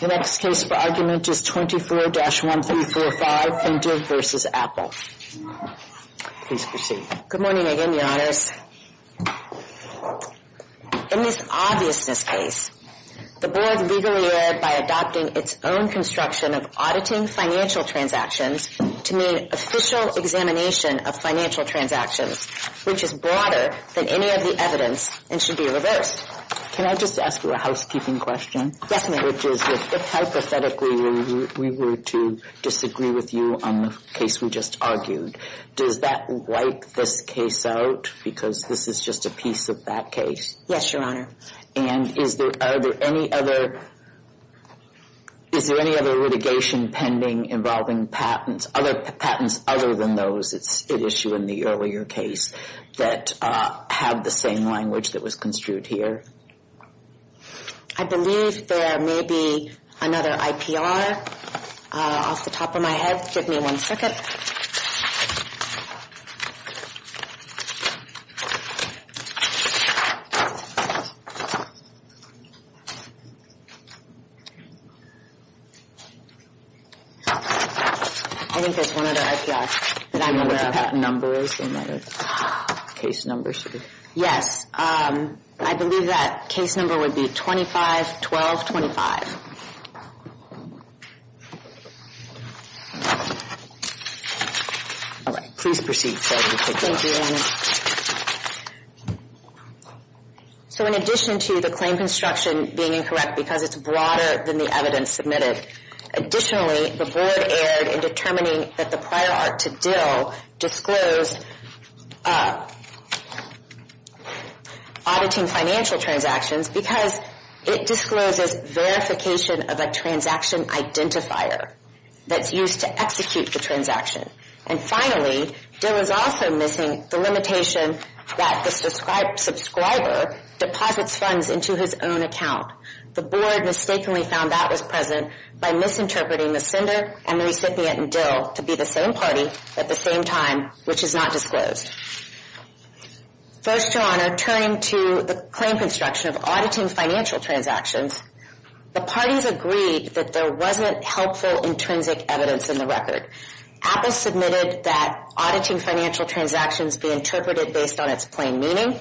The next case for argument is 24-1345 Fintiv, Inc. v. Apple, Inc. Please proceed. Good morning, again, Your Honors. In this obviousness case, the Board legally erred by adopting its own construction of auditing financial transactions to mean official examination of financial transactions, which is broader than any of the evidence and should be reversed. Can I just ask you a housekeeping question? Yes, ma'am. Which is, if hypothetically we were to disagree with you on the case we just argued, does that wipe this case out because this is just a piece of that case? Yes, Your Honor. And are there any other litigation pending involving patents, other patents other than those at issue in the earlier case that have the same language that was construed here? I believe there may be another IPR off the top of my head. Give me one second. I think there's one other IPR that I'm aware of. Do you know what the patent number is in that case number sheet? Yes. I believe that case number would be 251225. All right. Please proceed. Thank you, Your Honor. So in addition to the claim construction being incorrect because it's broader than the evidence submitted, additionally the board erred in determining that the prior art to Dill disclosed auditing financial transactions because it discloses verification of a transaction identifier that's used to execute the transaction. And finally, Dill is also missing the limitation that the subscriber deposits funds into his own account. The board mistakenly found that was present by misinterpreting the sender and the recipient in Dill to be the same party at the same time, which is not disclosed. First, Your Honor, turning to the claim construction of auditing financial transactions, the parties agreed that there wasn't helpful intrinsic evidence in the record. Apple submitted that auditing financial transactions be interpreted based on its plain meaning,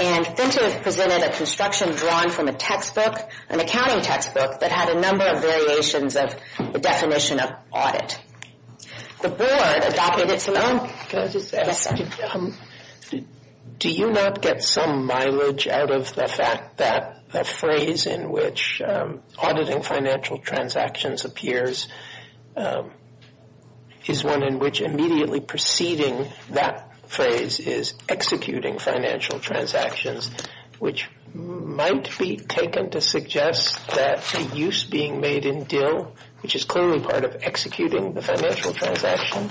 and Fintive presented a construction drawn from a textbook, an accounting textbook, that had a number of variations of the definition of audit. The board adopted its own. Can I just ask? Yes, sir. Do you not get some mileage out of the fact that a phrase in which auditing financial transactions appears is one in which immediately preceding that phrase is executing financial transactions, which might be taken to suggest that the use being made in Dill, which is clearly part of executing the financial transaction,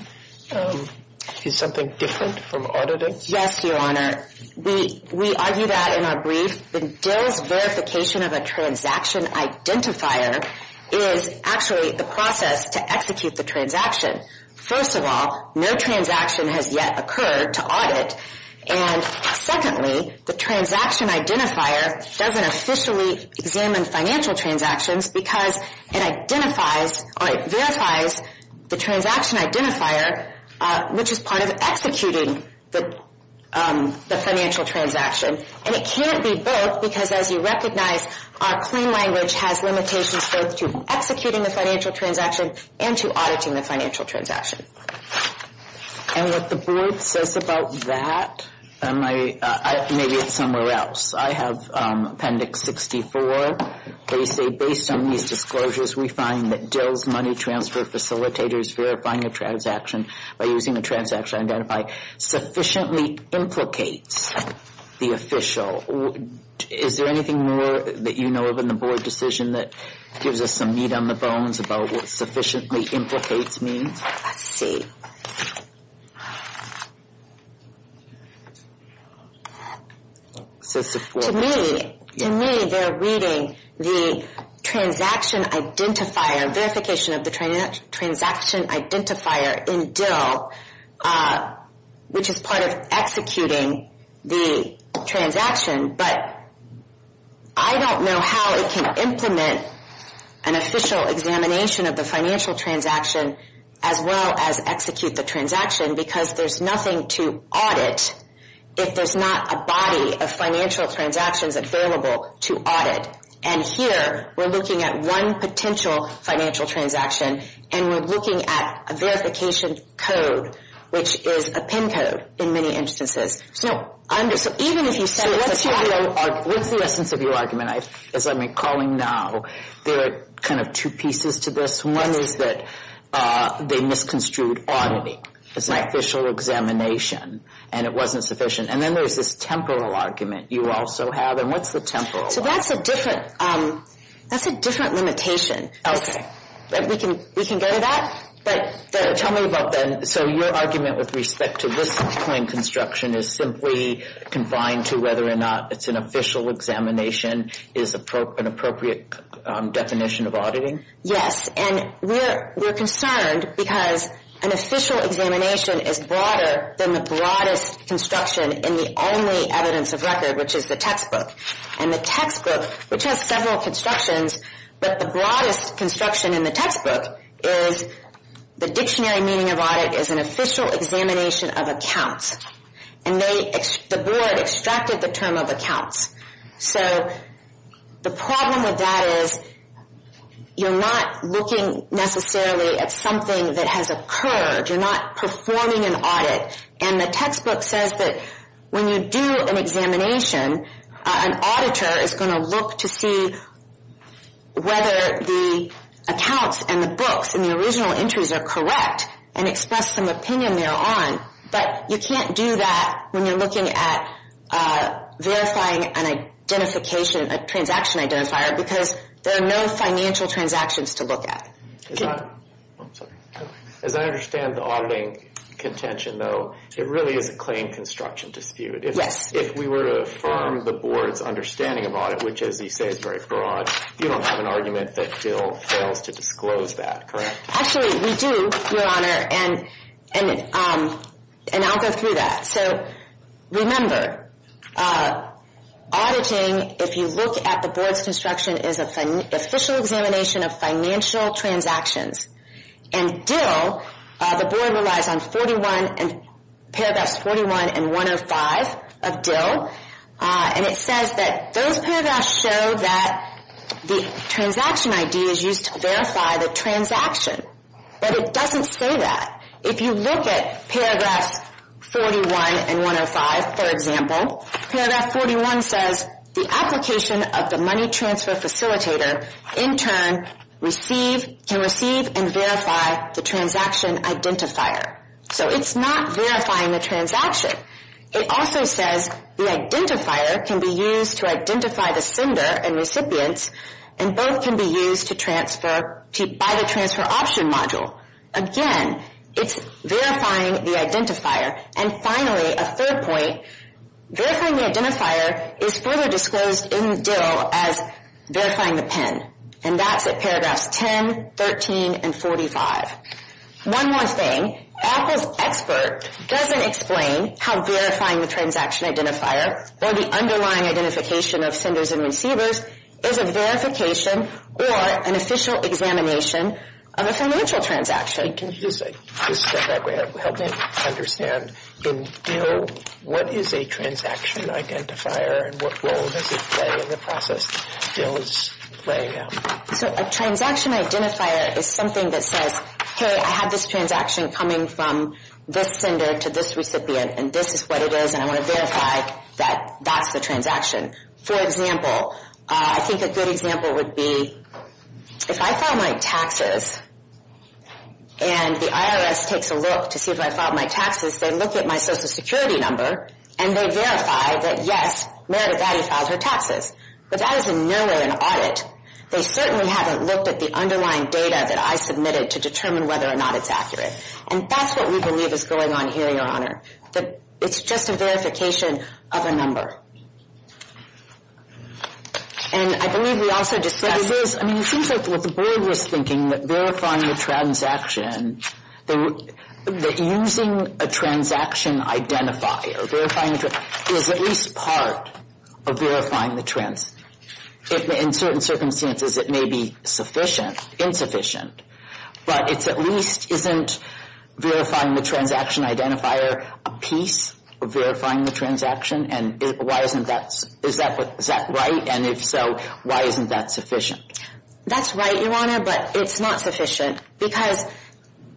is something different from auditing? Yes, Your Honor. We argue that in our brief that Dill's verification of a transaction identifier is actually the process to execute the transaction. First of all, no transaction has yet occurred to audit. And secondly, the transaction identifier doesn't officially examine financial transactions because it identifies or it verifies the transaction identifier, which is part of executing the financial transaction. And it can't be both because, as you recognize, our plain language has limitations both to executing the financial transaction and to auditing the financial transaction. And what the board says about that, maybe it's somewhere else. I have Appendix 64. They say, based on these disclosures, we find that Dill's money transfer facilitators verifying a transaction by using a transaction identifier sufficiently implicates the official. Is there anything more that you know of in the board decision that gives us some meat on the bones about what sufficiently implicates means? Let's see. To me, they're reading the transaction identifier, verification of the transaction identifier in Dill, which is part of executing the transaction. But I don't know how it can implement an official examination of the financial transaction as well as execute the transaction because there's nothing to audit if there's not a body of financial transactions available to audit. And here, we're looking at one potential financial transaction, and we're looking at a verification code, which is a PIN code in many instances. So even if you said it's a fact. What's the essence of your argument? As I'm recalling now, there are kind of two pieces to this. One is that they misconstrued auditing as an official examination, and it wasn't sufficient. And then there's this temporal argument you also have. So that's a different limitation. We can go to that. Tell me about that. So your argument with respect to this plain construction is simply confined to whether or not it's an official examination is an appropriate definition of auditing? Yes, and we're concerned because an official examination is broader than the broadest construction in the only evidence of record, which is the textbook. And the textbook, which has several constructions, but the broadest construction in the textbook is the dictionary meaning of audit is an official examination of accounts. And the board extracted the term of accounts. So the problem with that is you're not looking necessarily at something that has occurred. You're not performing an audit. And the textbook says that when you do an examination, an auditor is going to look to see whether the accounts and the books and the original entries are correct and express some opinion thereon. But you can't do that when you're looking at verifying an identification, a transaction identifier, because there are no financial transactions to look at. As I understand the auditing contention, though, it really is a claim construction dispute. If we were to affirm the board's understanding of audit, which, as you say, is very broad, you don't have an argument that Dill fails to disclose that, correct? Actually, we do, Your Honor, and I'll go through that. So remember, auditing, if you look at the board's construction, is an official examination of financial transactions. And Dill, the board relies on paragraphs 41 and 105 of Dill, and it says that those paragraphs show that the transaction ID is used to verify the transaction. But it doesn't say that. If you look at paragraphs 41 and 105, for example, paragraph 41 says the application of the money transfer facilitator, in turn, can receive and verify the transaction identifier. So it's not verifying the transaction. It also says the identifier can be used to identify the sender and recipients, and both can be used by the transfer option module. Again, it's verifying the identifier. And finally, a third point, verifying the identifier is further disclosed in Dill as verifying the PIN, and that's at paragraphs 10, 13, and 45. One more thing, Apple's expert doesn't explain how verifying the transaction identifier or the underlying identification of senders and receivers is a verification or an official examination of a financial transaction. Can you just help me understand, in Dill, what is a transaction identifier, and what role does it play in the process? So a transaction identifier is something that says, hey, I have this transaction coming from this sender to this recipient, and this is what it is, and I want to verify that that's the transaction. For example, I think a good example would be if I file my taxes, and the IRS takes a look to see if I filed my taxes, they look at my Social Security number, and they verify that, yes, Meredith Addy filed her taxes. But that is in no way an audit. They certainly haven't looked at the underlying data that I submitted to determine whether or not it's accurate. And that's what we believe is going on here, Your Honor, that it's just a verification of a number. And I believe we also discussed this. I mean, it seems like what the board was thinking, that verifying the transaction, that using a transaction identifier, verifying the transaction, is at least part of verifying the transaction. In certain circumstances, it may be sufficient, insufficient, but it at least isn't verifying the transaction identifier a piece of verifying the transaction, and is that right? And if so, why isn't that sufficient? That's right, Your Honor, but it's not sufficient, because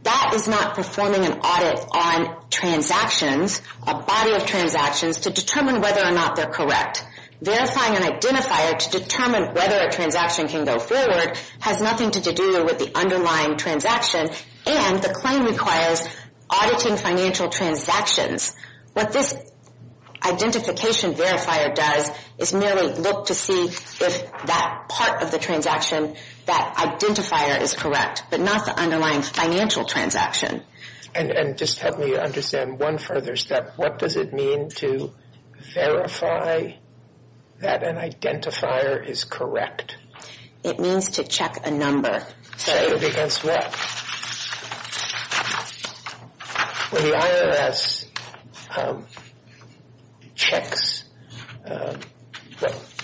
that is not performing an audit on transactions, a body of transactions, to determine whether or not they're correct. Verifying an identifier to determine whether a transaction can go forward has nothing to do with the underlying transaction, and the claim requires auditing financial transactions. What this identification verifier does is merely look to see if that part of the transaction, that identifier, is correct, but not the underlying financial transaction. And just help me understand one further step. What does it mean to verify that an identifier is correct? It means to check a number. Check against what? When the IRS checks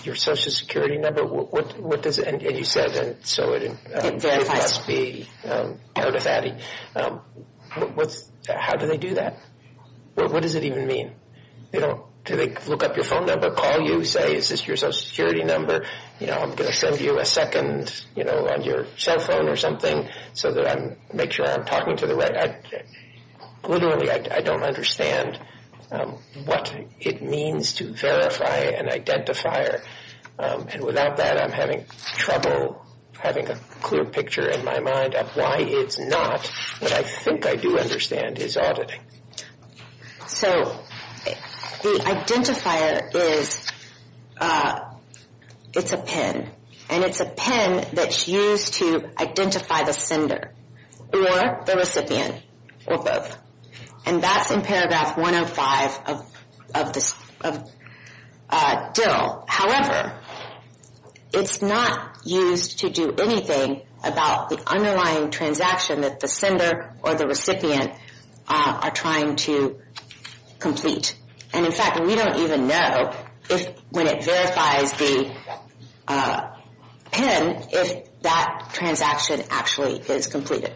your Social Security number, what does it, and you said, and so it must be notified, how do they do that? What does it even mean? Do they look up your phone number, call you, say, is this your Social Security number? You know, I'm going to send you a second, you know, on your cell phone or something, so that I make sure I'm talking to the right. Literally, I don't understand what it means to verify an identifier. And without that, I'm having trouble having a clear picture in my mind of why it's not. What I think I do understand is auditing. So the identifier is, it's a PIN, and it's a PIN that's used to identify the sender or the recipient or both. And that's in paragraph 105 of DIL. However, it's not used to do anything about the underlying transaction that the sender or the recipient are trying to complete. And, in fact, we don't even know if, when it verifies the PIN, if that transaction actually is completed.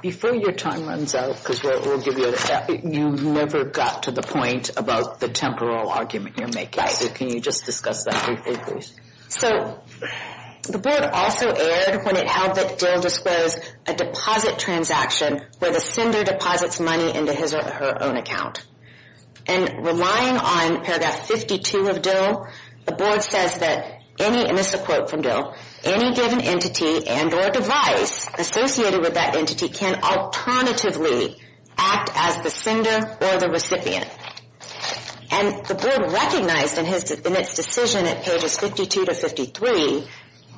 Before your time runs out, because we'll give you a minute, you never got to the point about the temporal argument you're making. Right. Can you just discuss that briefly, please? So the board also erred when it held that DIL disclosed a deposit transaction where the sender deposits money into his or her own account. And relying on paragraph 52 of DIL, the board says that any, and this is a quote from DIL, any given entity and or device associated with that entity can alternatively act as the sender or the recipient. And the board recognized in its decision at pages 52 to 53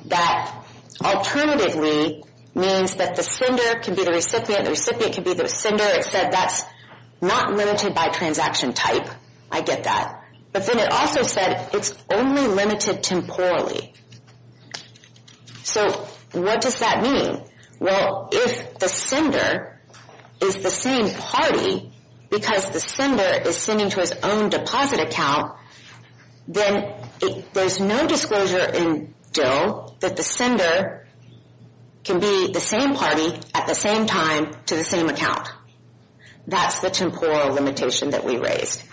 that alternatively means that the sender can be the recipient, the recipient can be the sender. It said that's not limited by transaction type. I get that. But then it also said it's only limited temporally. So what does that mean? Well, if the sender is the same party, because the sender is sending to his own deposit account, then there's no disclosure in DIL that the sender can be the same party at the same time to the same account. That's the temporal limitation that we raised.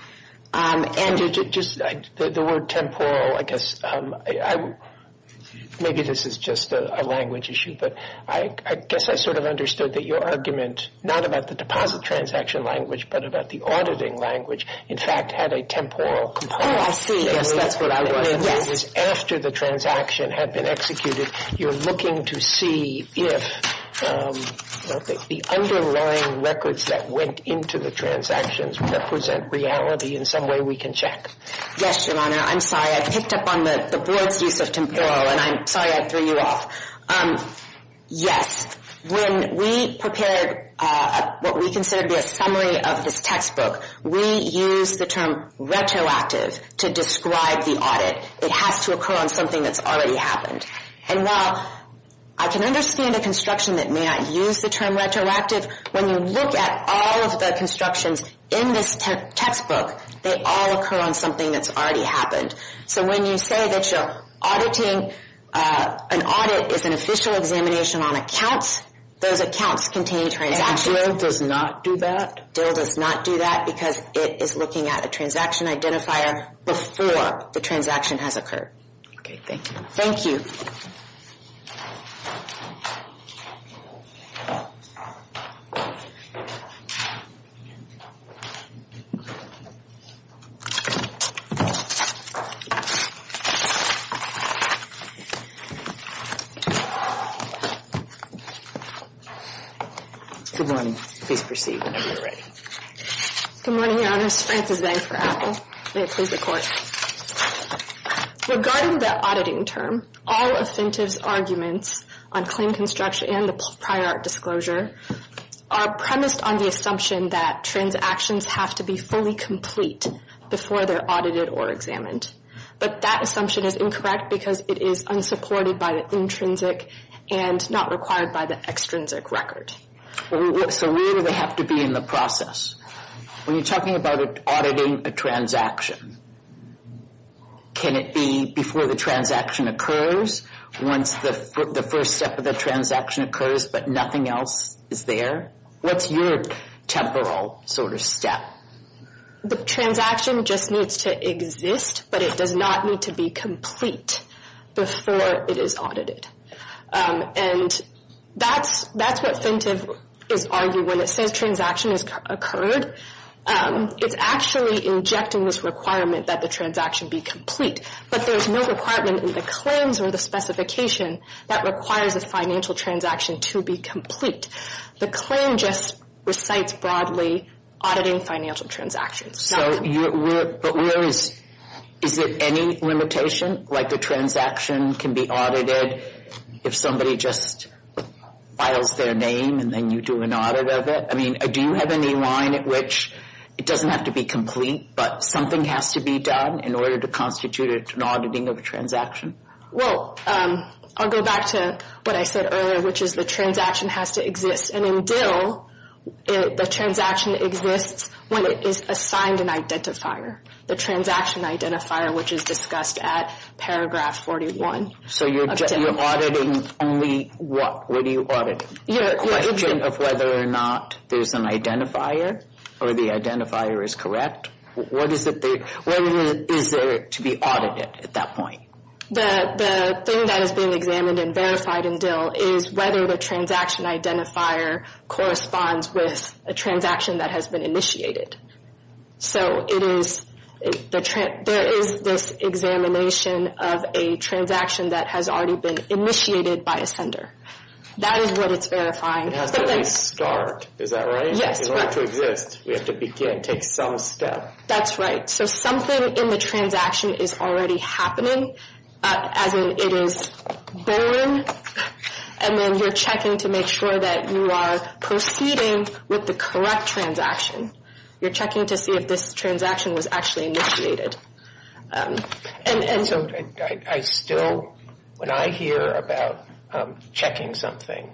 The word temporal, I guess, maybe this is just a language issue, but I guess I sort of understood that your argument, not about the deposit transaction language, but about the auditing language, in fact, had a temporal component. Oh, I see. Yes, that's what I was thinking. After the transaction had been executed, you're looking to see if the underlying records that went into the transactions represent reality in some way we can check. Yes, Your Honor. I'm sorry. I picked up on the board's use of temporal, and I'm sorry I threw you off. Yes. When we prepared what we considered to be a summary of this textbook, we used the term retroactive to describe the audit. It has to occur on something that's already happened. And while I can understand a construction that may not use the term retroactive, when you look at all of the constructions in this textbook, they all occur on something that's already happened. So when you say that you're auditing, an audit is an official examination on accounts, those accounts contain transactions. And DIL does not do that? DIL does not do that because it is looking at a transaction identifier before the transaction has occurred. Okay. Thank you. Thank you. Good morning. Please proceed whenever you're ready. Good morning, Your Honors. Frances Vang for Apple. May it please the Court. Regarding the auditing term, all offensive arguments on claim construction and the prior art disclosure are premised on the assumption that transactions have to be fully complete before they're audited or examined. But that assumption is incorrect because it is unsupported by the intrinsic and not required by the extrinsic record. So where do they have to be in the process? When you're talking about auditing a transaction, can it be before the transaction occurs, once the first step of the transaction occurs but nothing else is there? What's your temporal sort of step? The transaction just needs to exist, but it does not need to be complete before it is audited. And that's what Fintive is arguing. When it says transaction has occurred, it's actually injecting this requirement that the transaction be complete. But there's no requirement in the claims or the specification that requires a financial transaction to be complete. The claim just recites broadly auditing financial transactions. So where is it any limitation? Like the transaction can be audited if somebody just files their name and then you do an audit of it? I mean, do you have any line at which it doesn't have to be complete but something has to be done in order to constitute an auditing of a transaction? Well, I'll go back to what I said earlier, which is the transaction has to exist. And in DIL, the transaction exists when it is assigned an identifier, the transaction identifier, which is discussed at paragraph 41. So you're auditing only what? What are you auditing? The question of whether or not there's an identifier or the identifier is correct? What is there to be audited at that point? The thing that is being examined and verified in DIL is whether the transaction identifier corresponds with a transaction that has been initiated. So there is this examination of a transaction that has already been initiated by a sender. That is what it's verifying. It has to at least start, is that right? Yes. In order to exist, we have to begin, take some step. That's right. So something in the transaction is already happening, as in it is born. And then you're checking to make sure that you are proceeding with the correct transaction. You're checking to see if this transaction was actually initiated. And so I still, when I hear about checking something,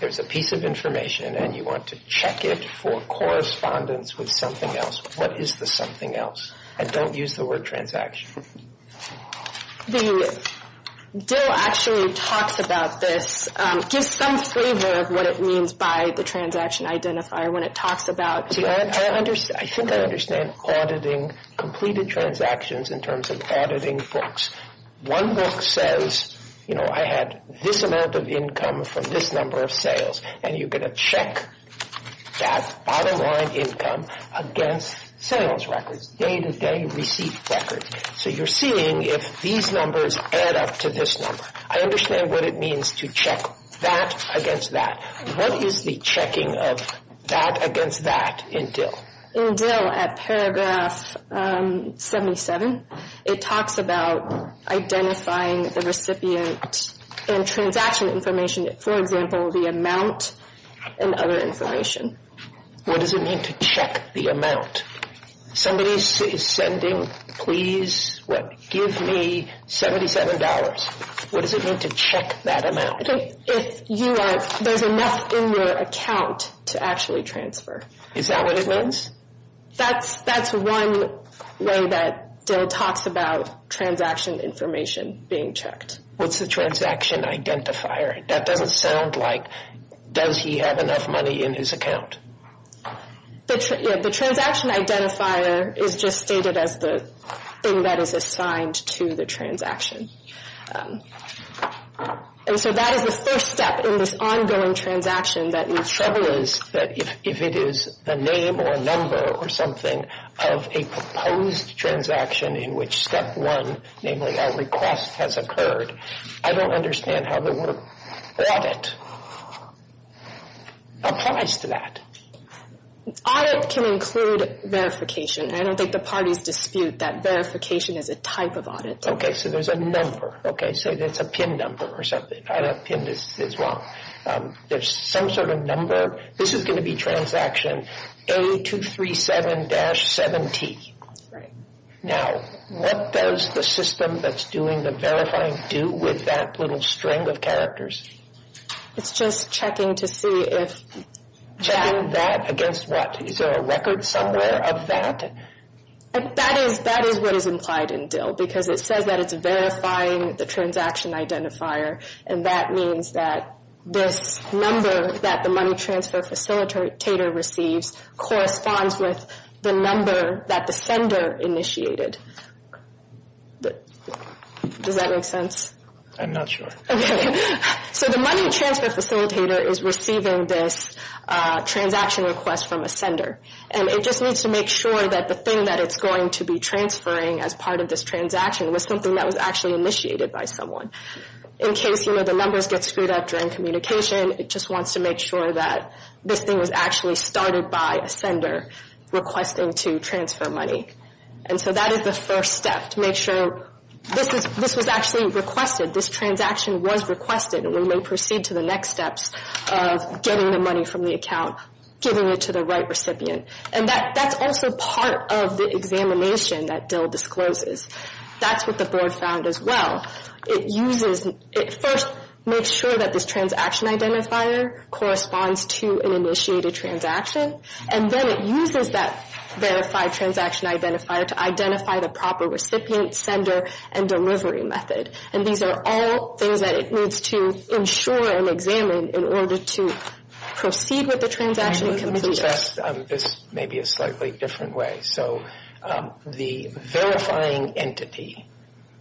there's a piece of information and you want to check it for correspondence with something else. What is the something else? And don't use the word transaction. The DIL actually talks about this, gives some flavor of what it means by the transaction identifier when it talks about DIL. I think I understand auditing, completed transactions in terms of auditing books. One book says, you know, I had this amount of income from this number of sales, and you're going to check that bottom line income against sales records, day-to-day receipt records. So you're seeing if these numbers add up to this number. I understand what it means to check that against that. What is the checking of that against that in DIL? In DIL, at paragraph 77, it talks about identifying the recipient and transaction information. For example, the amount and other information. What does it mean to check the amount? Somebody is sending, please give me $77. What does it mean to check that amount? If there's enough in your account to actually transfer. Is that what it means? That's one way that DIL talks about transaction information being checked. What's the transaction identifier? That doesn't sound like, does he have enough money in his account? The transaction identifier is just stated as the thing that is assigned to the transaction. And so that is the first step in this ongoing transaction. The trouble is that if it is a name or a number or something of a proposed transaction in which step one, namely a request has occurred, I don't understand how the word audit applies to that. Audit can include verification. I don't think the parties dispute that verification is a type of audit. Okay, so there's a number. Say there's a PIN number or something. I don't know if PIN is wrong. There's some sort of number. This is going to be transaction A237-7T. Now, what does the system that's doing the verifying do with that little string of characters? It's just checking to see if... Checking that against what? Is there a record somewhere of that? That is what is implied in DIL because it says that it's verifying the transaction identifier, and that means that this number that the money transfer facilitator receives corresponds with the number that the sender initiated. Does that make sense? I'm not sure. So the money transfer facilitator is receiving this transaction request from a sender, and it just needs to make sure that the thing that it's going to be transferring as part of this transaction was something that was actually initiated by someone. In case the numbers get screwed up during communication, it just wants to make sure that this thing was actually started by a sender requesting to transfer money. And so that is the first step, to make sure this was actually requested, this transaction was requested, and we may proceed to the next steps of getting the money from the account, giving it to the right recipient. And that's also part of the examination that DIL discloses. That's what the board found as well. It first makes sure that this transaction identifier corresponds to an initiated transaction, and then it uses that verified transaction identifier to identify the proper recipient, sender, and delivery method. And these are all things that it needs to ensure and examine in order to proceed with the transaction. This may be a slightly different way. So the verifying entity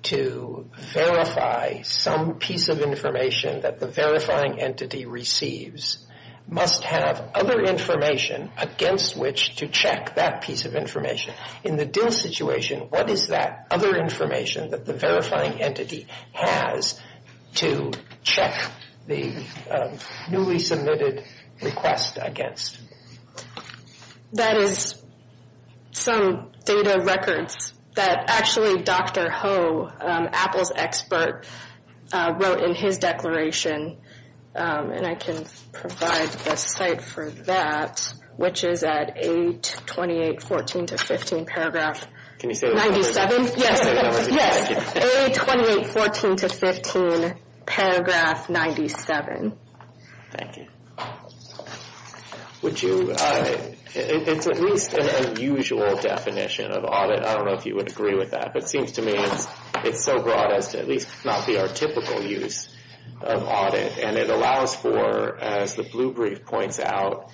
to verify some piece of information that the verifying entity receives must have other information against which to check that piece of information. In the DIL situation, what is that other information that the verifying entity has to check the newly submitted request against? That is some data records that actually Dr. Ho, Apple's expert, wrote in his declaration. And I can provide a site for that, which is at A2814-15 paragraph 97. Yes, A2814-15 paragraph 97. Thank you. Would you, it's at least an unusual definition of audit. I don't know if you would agree with that. But it seems to me it's so broad as to at least not be our typical use of audit. And it allows for, as the blue brief points out,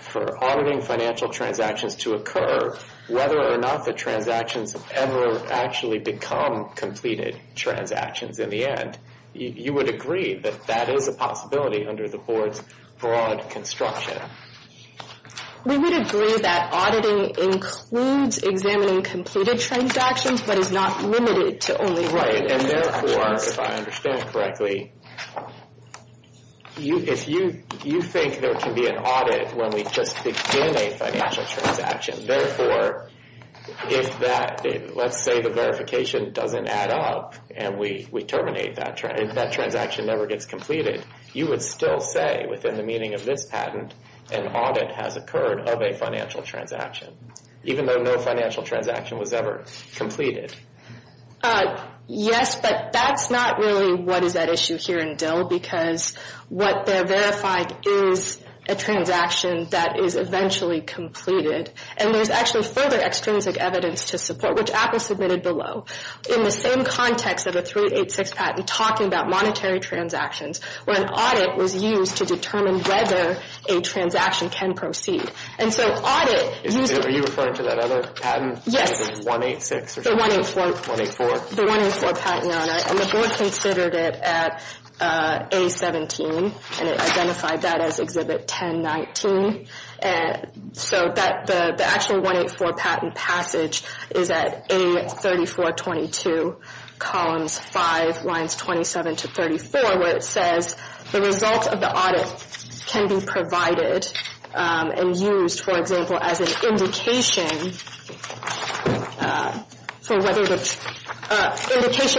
for auditing financial transactions to occur, whether or not the transactions ever actually become completed transactions in the end. You would agree that that is a possibility under the board's broad construction. We would agree that auditing includes examining completed transactions, but is not limited to only auditing transactions. Right, and therefore, if I understand correctly, if you think there can be an audit when we just begin a financial transaction, therefore, if that, let's say the verification doesn't add up, and we terminate that, that transaction never gets completed, you would still say within the meaning of this patent, an audit has occurred of a financial transaction, even though no financial transaction was ever completed. Yes, but that's not really what is at issue here in DIL, because what they're verifying is a transaction that is eventually completed. And there's actually further extrinsic evidence to support, which Apple submitted below, in the same context of a 386 patent talking about monetary transactions, where an audit was used to determine whether a transaction can proceed. And so audit... Are you referring to that other patent? Yes. The 186 or something? The 184. The 184 patent on it, and the board considered it at A17, and it identified that as Exhibit 1019. So the actual 184 patent passage is at A3422, columns 5, lines 27 to 34, where it says the results of the audit can be provided and used, for example, as an indication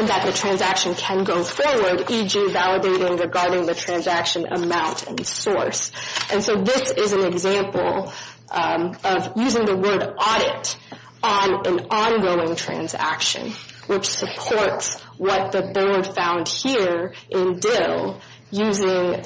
that the transaction can go forward, e.g. validating regarding the transaction amount and source. And so this is an example of using the word audit on an ongoing transaction, which supports what the board found here in DIL, using...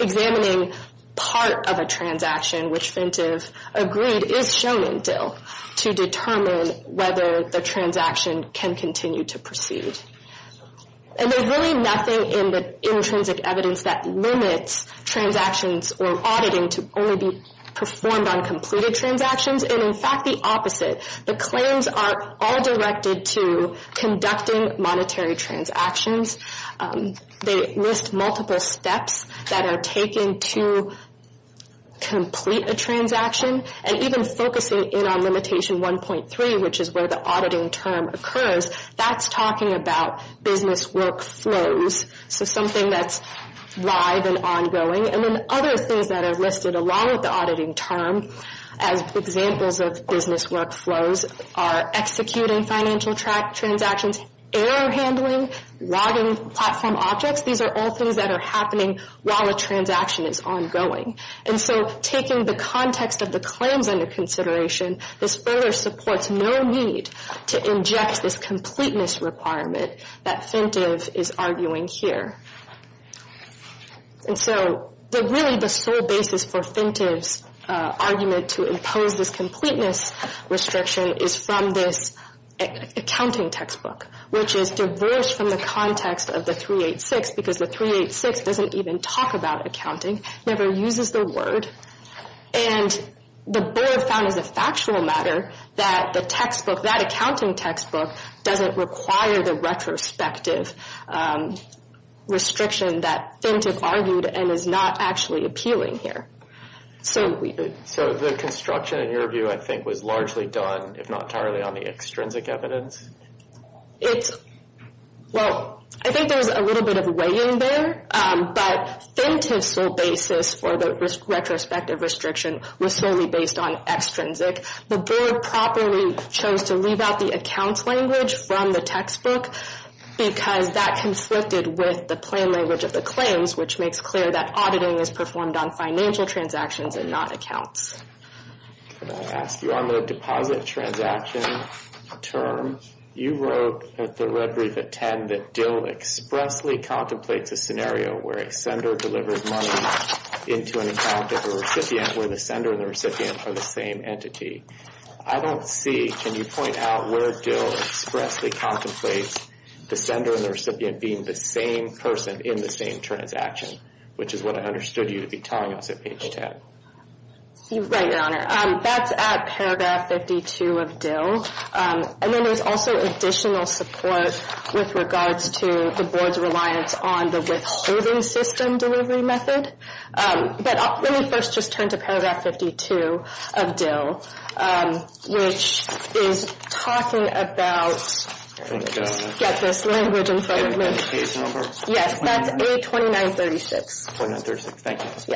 Examining part of a transaction, which Fintive agreed is shown in DIL, to determine whether the transaction can continue to proceed. And there's really nothing in the intrinsic evidence that limits transactions or auditing to only be performed on completed transactions, and in fact the opposite. The claims are all directed to conducting monetary transactions. They list multiple steps that are taken to complete a transaction, and even focusing in on limitation 1.3, which is where the auditing term occurs, that's talking about business workflows, so something that's live and ongoing. And then other things that are listed along with the auditing term, as examples of business workflows, are executing financial transactions, error handling, logging platform objects. These are all things that are happening while a transaction is ongoing. And so taking the context of the claims under consideration, this further supports no need to inject this completeness requirement that Fintive is arguing here. And so really the sole basis for Fintive's argument to impose this completeness restriction is from this accounting textbook, which is diverse from the context of the 386, because the 386 doesn't even talk about accounting, never uses the word. And the board found as a factual matter that the textbook, that accounting textbook, doesn't require the retrospective restriction that Fintive argued and is not actually appealing here. So the construction in your view, I think, was largely done, if not entirely, on the extrinsic evidence? Well, I think there's a little bit of weighing there, but Fintive's sole basis for the retrospective restriction was solely based on extrinsic. The board properly chose to leave out the accounts language from the textbook because that conflicted with the plain language of the claims, which makes clear that auditing is performed on financial transactions and not accounts. Can I ask you, on the deposit transaction term, you wrote at the red brief at 10 that Dill expressly contemplates a scenario where a sender delivers money into an account of a recipient where the sender and the recipient are the same entity. I don't see, can you point out where Dill expressly contemplates the sender and the recipient being the same person in the same transaction, which is what I understood you to be telling us at page 10. Right, Your Honor. That's at paragraph 52 of Dill. And then there's also additional support with regards to the board's reliance on the withholding system delivery method. But let me first just turn to paragraph 52 of Dill, which is talking about, get this language in front of me. Yes, that's A2936.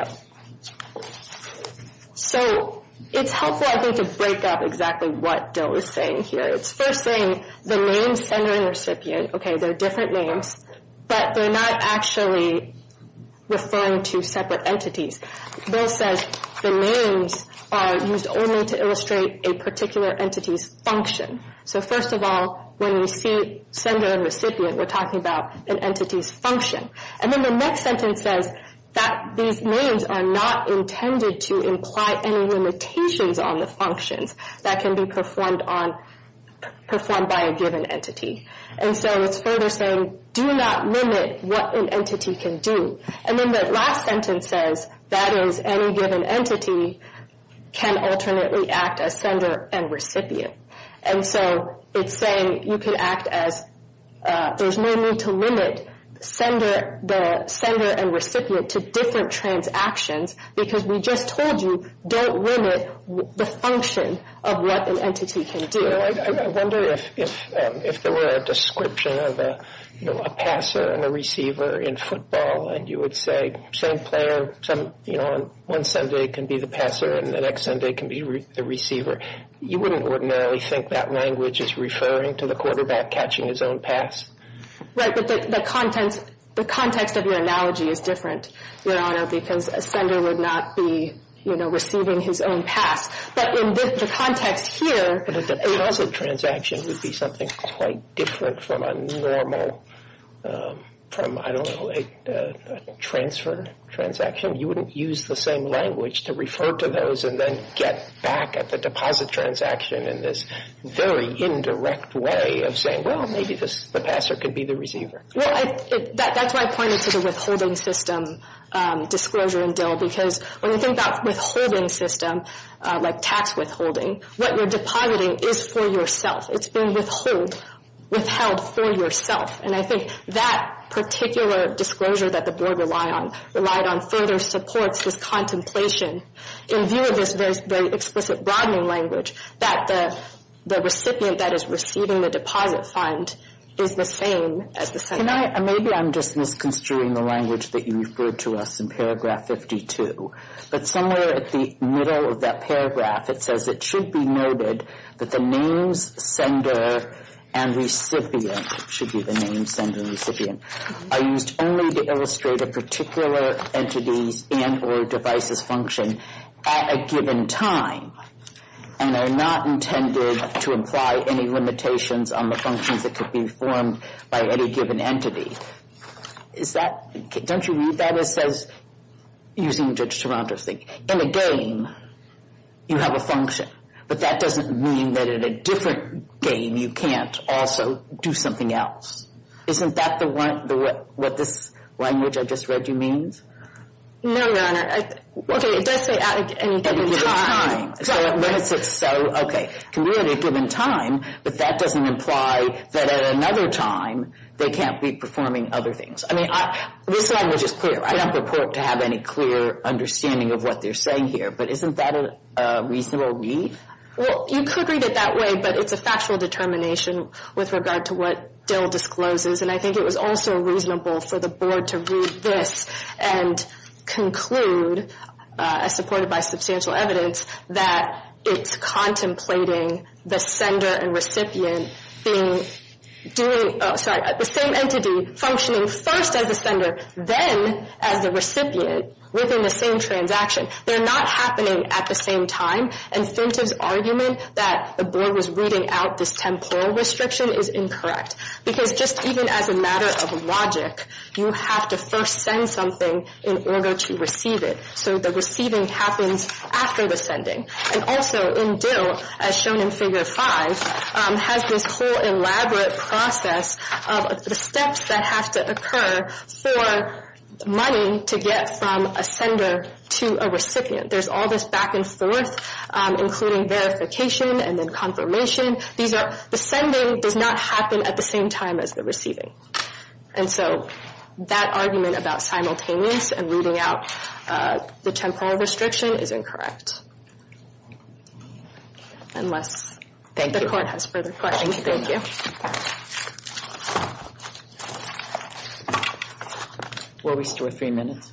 So it's helpful, I think, to break up exactly what Dill is saying here. It's first saying the name sender and recipient, okay, they're different names, but they're not actually referring to separate entities. Dill says the names are used only to illustrate a particular entity's function. So first of all, when we see sender and recipient, we're talking about an entity's function. And then the next sentence says that these names are not intended to imply any limitations on the functions that can be performed by a given entity. And so it's further saying do not limit what an entity can do. And then the last sentence says that is any given entity can alternately act as sender and recipient. And so it's saying you can act as, there's no need to limit the sender and recipient to different transactions because we just told you don't limit the function of what an entity can do. I wonder if there were a description of a passer and a receiver in football and you would say same player on one Sunday can be the passer and the next Sunday can be the receiver. You wouldn't ordinarily think that language is referring to the quarterback catching his own pass. Right, but the context of your analogy is different, Your Honor, because a sender would not be, you know, receiving his own pass. But in the context here. But a deposit transaction would be something quite different from a normal, from, I don't know, a transfer transaction. You wouldn't use the same language to refer to those and then get back at the deposit transaction in this very indirect way of saying, well, maybe the passer could be the receiver. Well, that's why I pointed to the withholding system disclosure in Dill because when you think about withholding system, like tax withholding, what you're depositing is for yourself. It's being withheld for yourself. And I think that particular disclosure that the Board relied on supports this contemplation in view of this very explicit broadening language that the recipient that is receiving the deposit fund is the same as the sender. Maybe I'm just misconstruing the language that you referred to us in paragraph 52. But somewhere at the middle of that paragraph it says, it should be noted that the names sender and recipient, it should be the names sender and recipient, are used only to illustrate a particular entity's and or device's function at a given time and are not intended to imply any limitations on the functions that could be formed by any given entity. Is that, don't you read that as says, using Judge Toronto's thinking, in a game you have a function, but that doesn't mean that in a different game you can't also do something else. Isn't that what this language I just read you means? No, Your Honor. Okay, it does say at any given time. At any given time. So when it says so, okay, can be at any given time, but that doesn't imply that at another time they can't be performing other things. I mean, this language is clear. I don't purport to have any clear understanding of what they're saying here, but isn't that a reasonable read? Well, you could read it that way, but it's a factual determination with regard to what Dill discloses, and I think it was also reasonable for the Board to read this and conclude, as supported by substantial evidence, that it's contemplating the sender and recipient being doing, sorry, the same entity functioning first as the sender, then as the recipient within the same transaction. They're not happening at the same time, and Fintive's argument that the Board was reading out this temporal restriction is incorrect, because just even as a matter of logic, you have to first send something in order to receive it. So the receiving happens after the sending. And also in Dill, as shown in Figure 5, has this whole elaborate process of the steps that have to occur for money to get from a sender to a recipient. There's all this back and forth, including verification and then confirmation. The sending does not happen at the same time as the receiving. And so that argument about simultaneous and reading out the temporal restriction is incorrect. Unless the Court has further questions. Thank you. Thank you. Will we still have three minutes?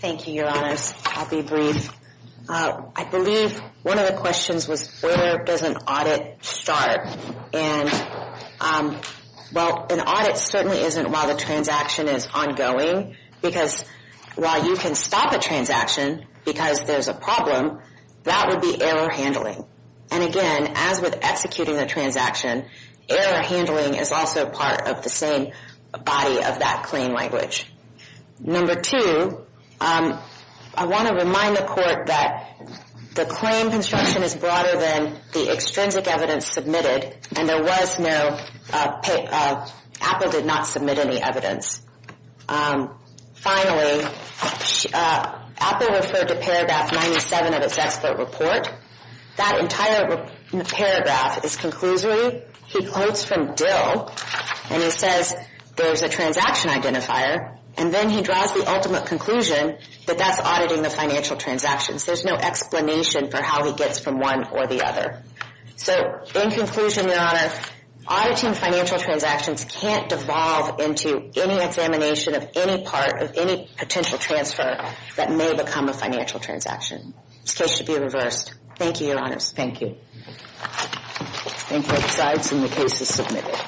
Thank you, Your Honors. I'll be brief. I believe one of the questions was, where does an audit start? And, well, an audit certainly isn't while the transaction is ongoing, because while you can stop a transaction because there's a problem, that would be error handling. And, again, as with executing a transaction, error handling is also part of the same body of that claim language. Number two, I want to remind the Court that the claim construction is broader than the extrinsic evidence submitted, and there was no, Apple did not submit any evidence. Finally, Apple referred to paragraph 97 of its expert report. That entire paragraph is conclusory. He quotes from Dill, and he says there's a transaction identifier, and then he draws the ultimate conclusion that that's auditing the financial transactions. There's no explanation for how he gets from one or the other. So, in conclusion, Your Honor, auditing financial transactions can't devolve into any examination of any part of any potential transfer that may become a financial transaction. This case should be reversed. Thank you, Your Honors. Thank you. Thank you. The case is submitted.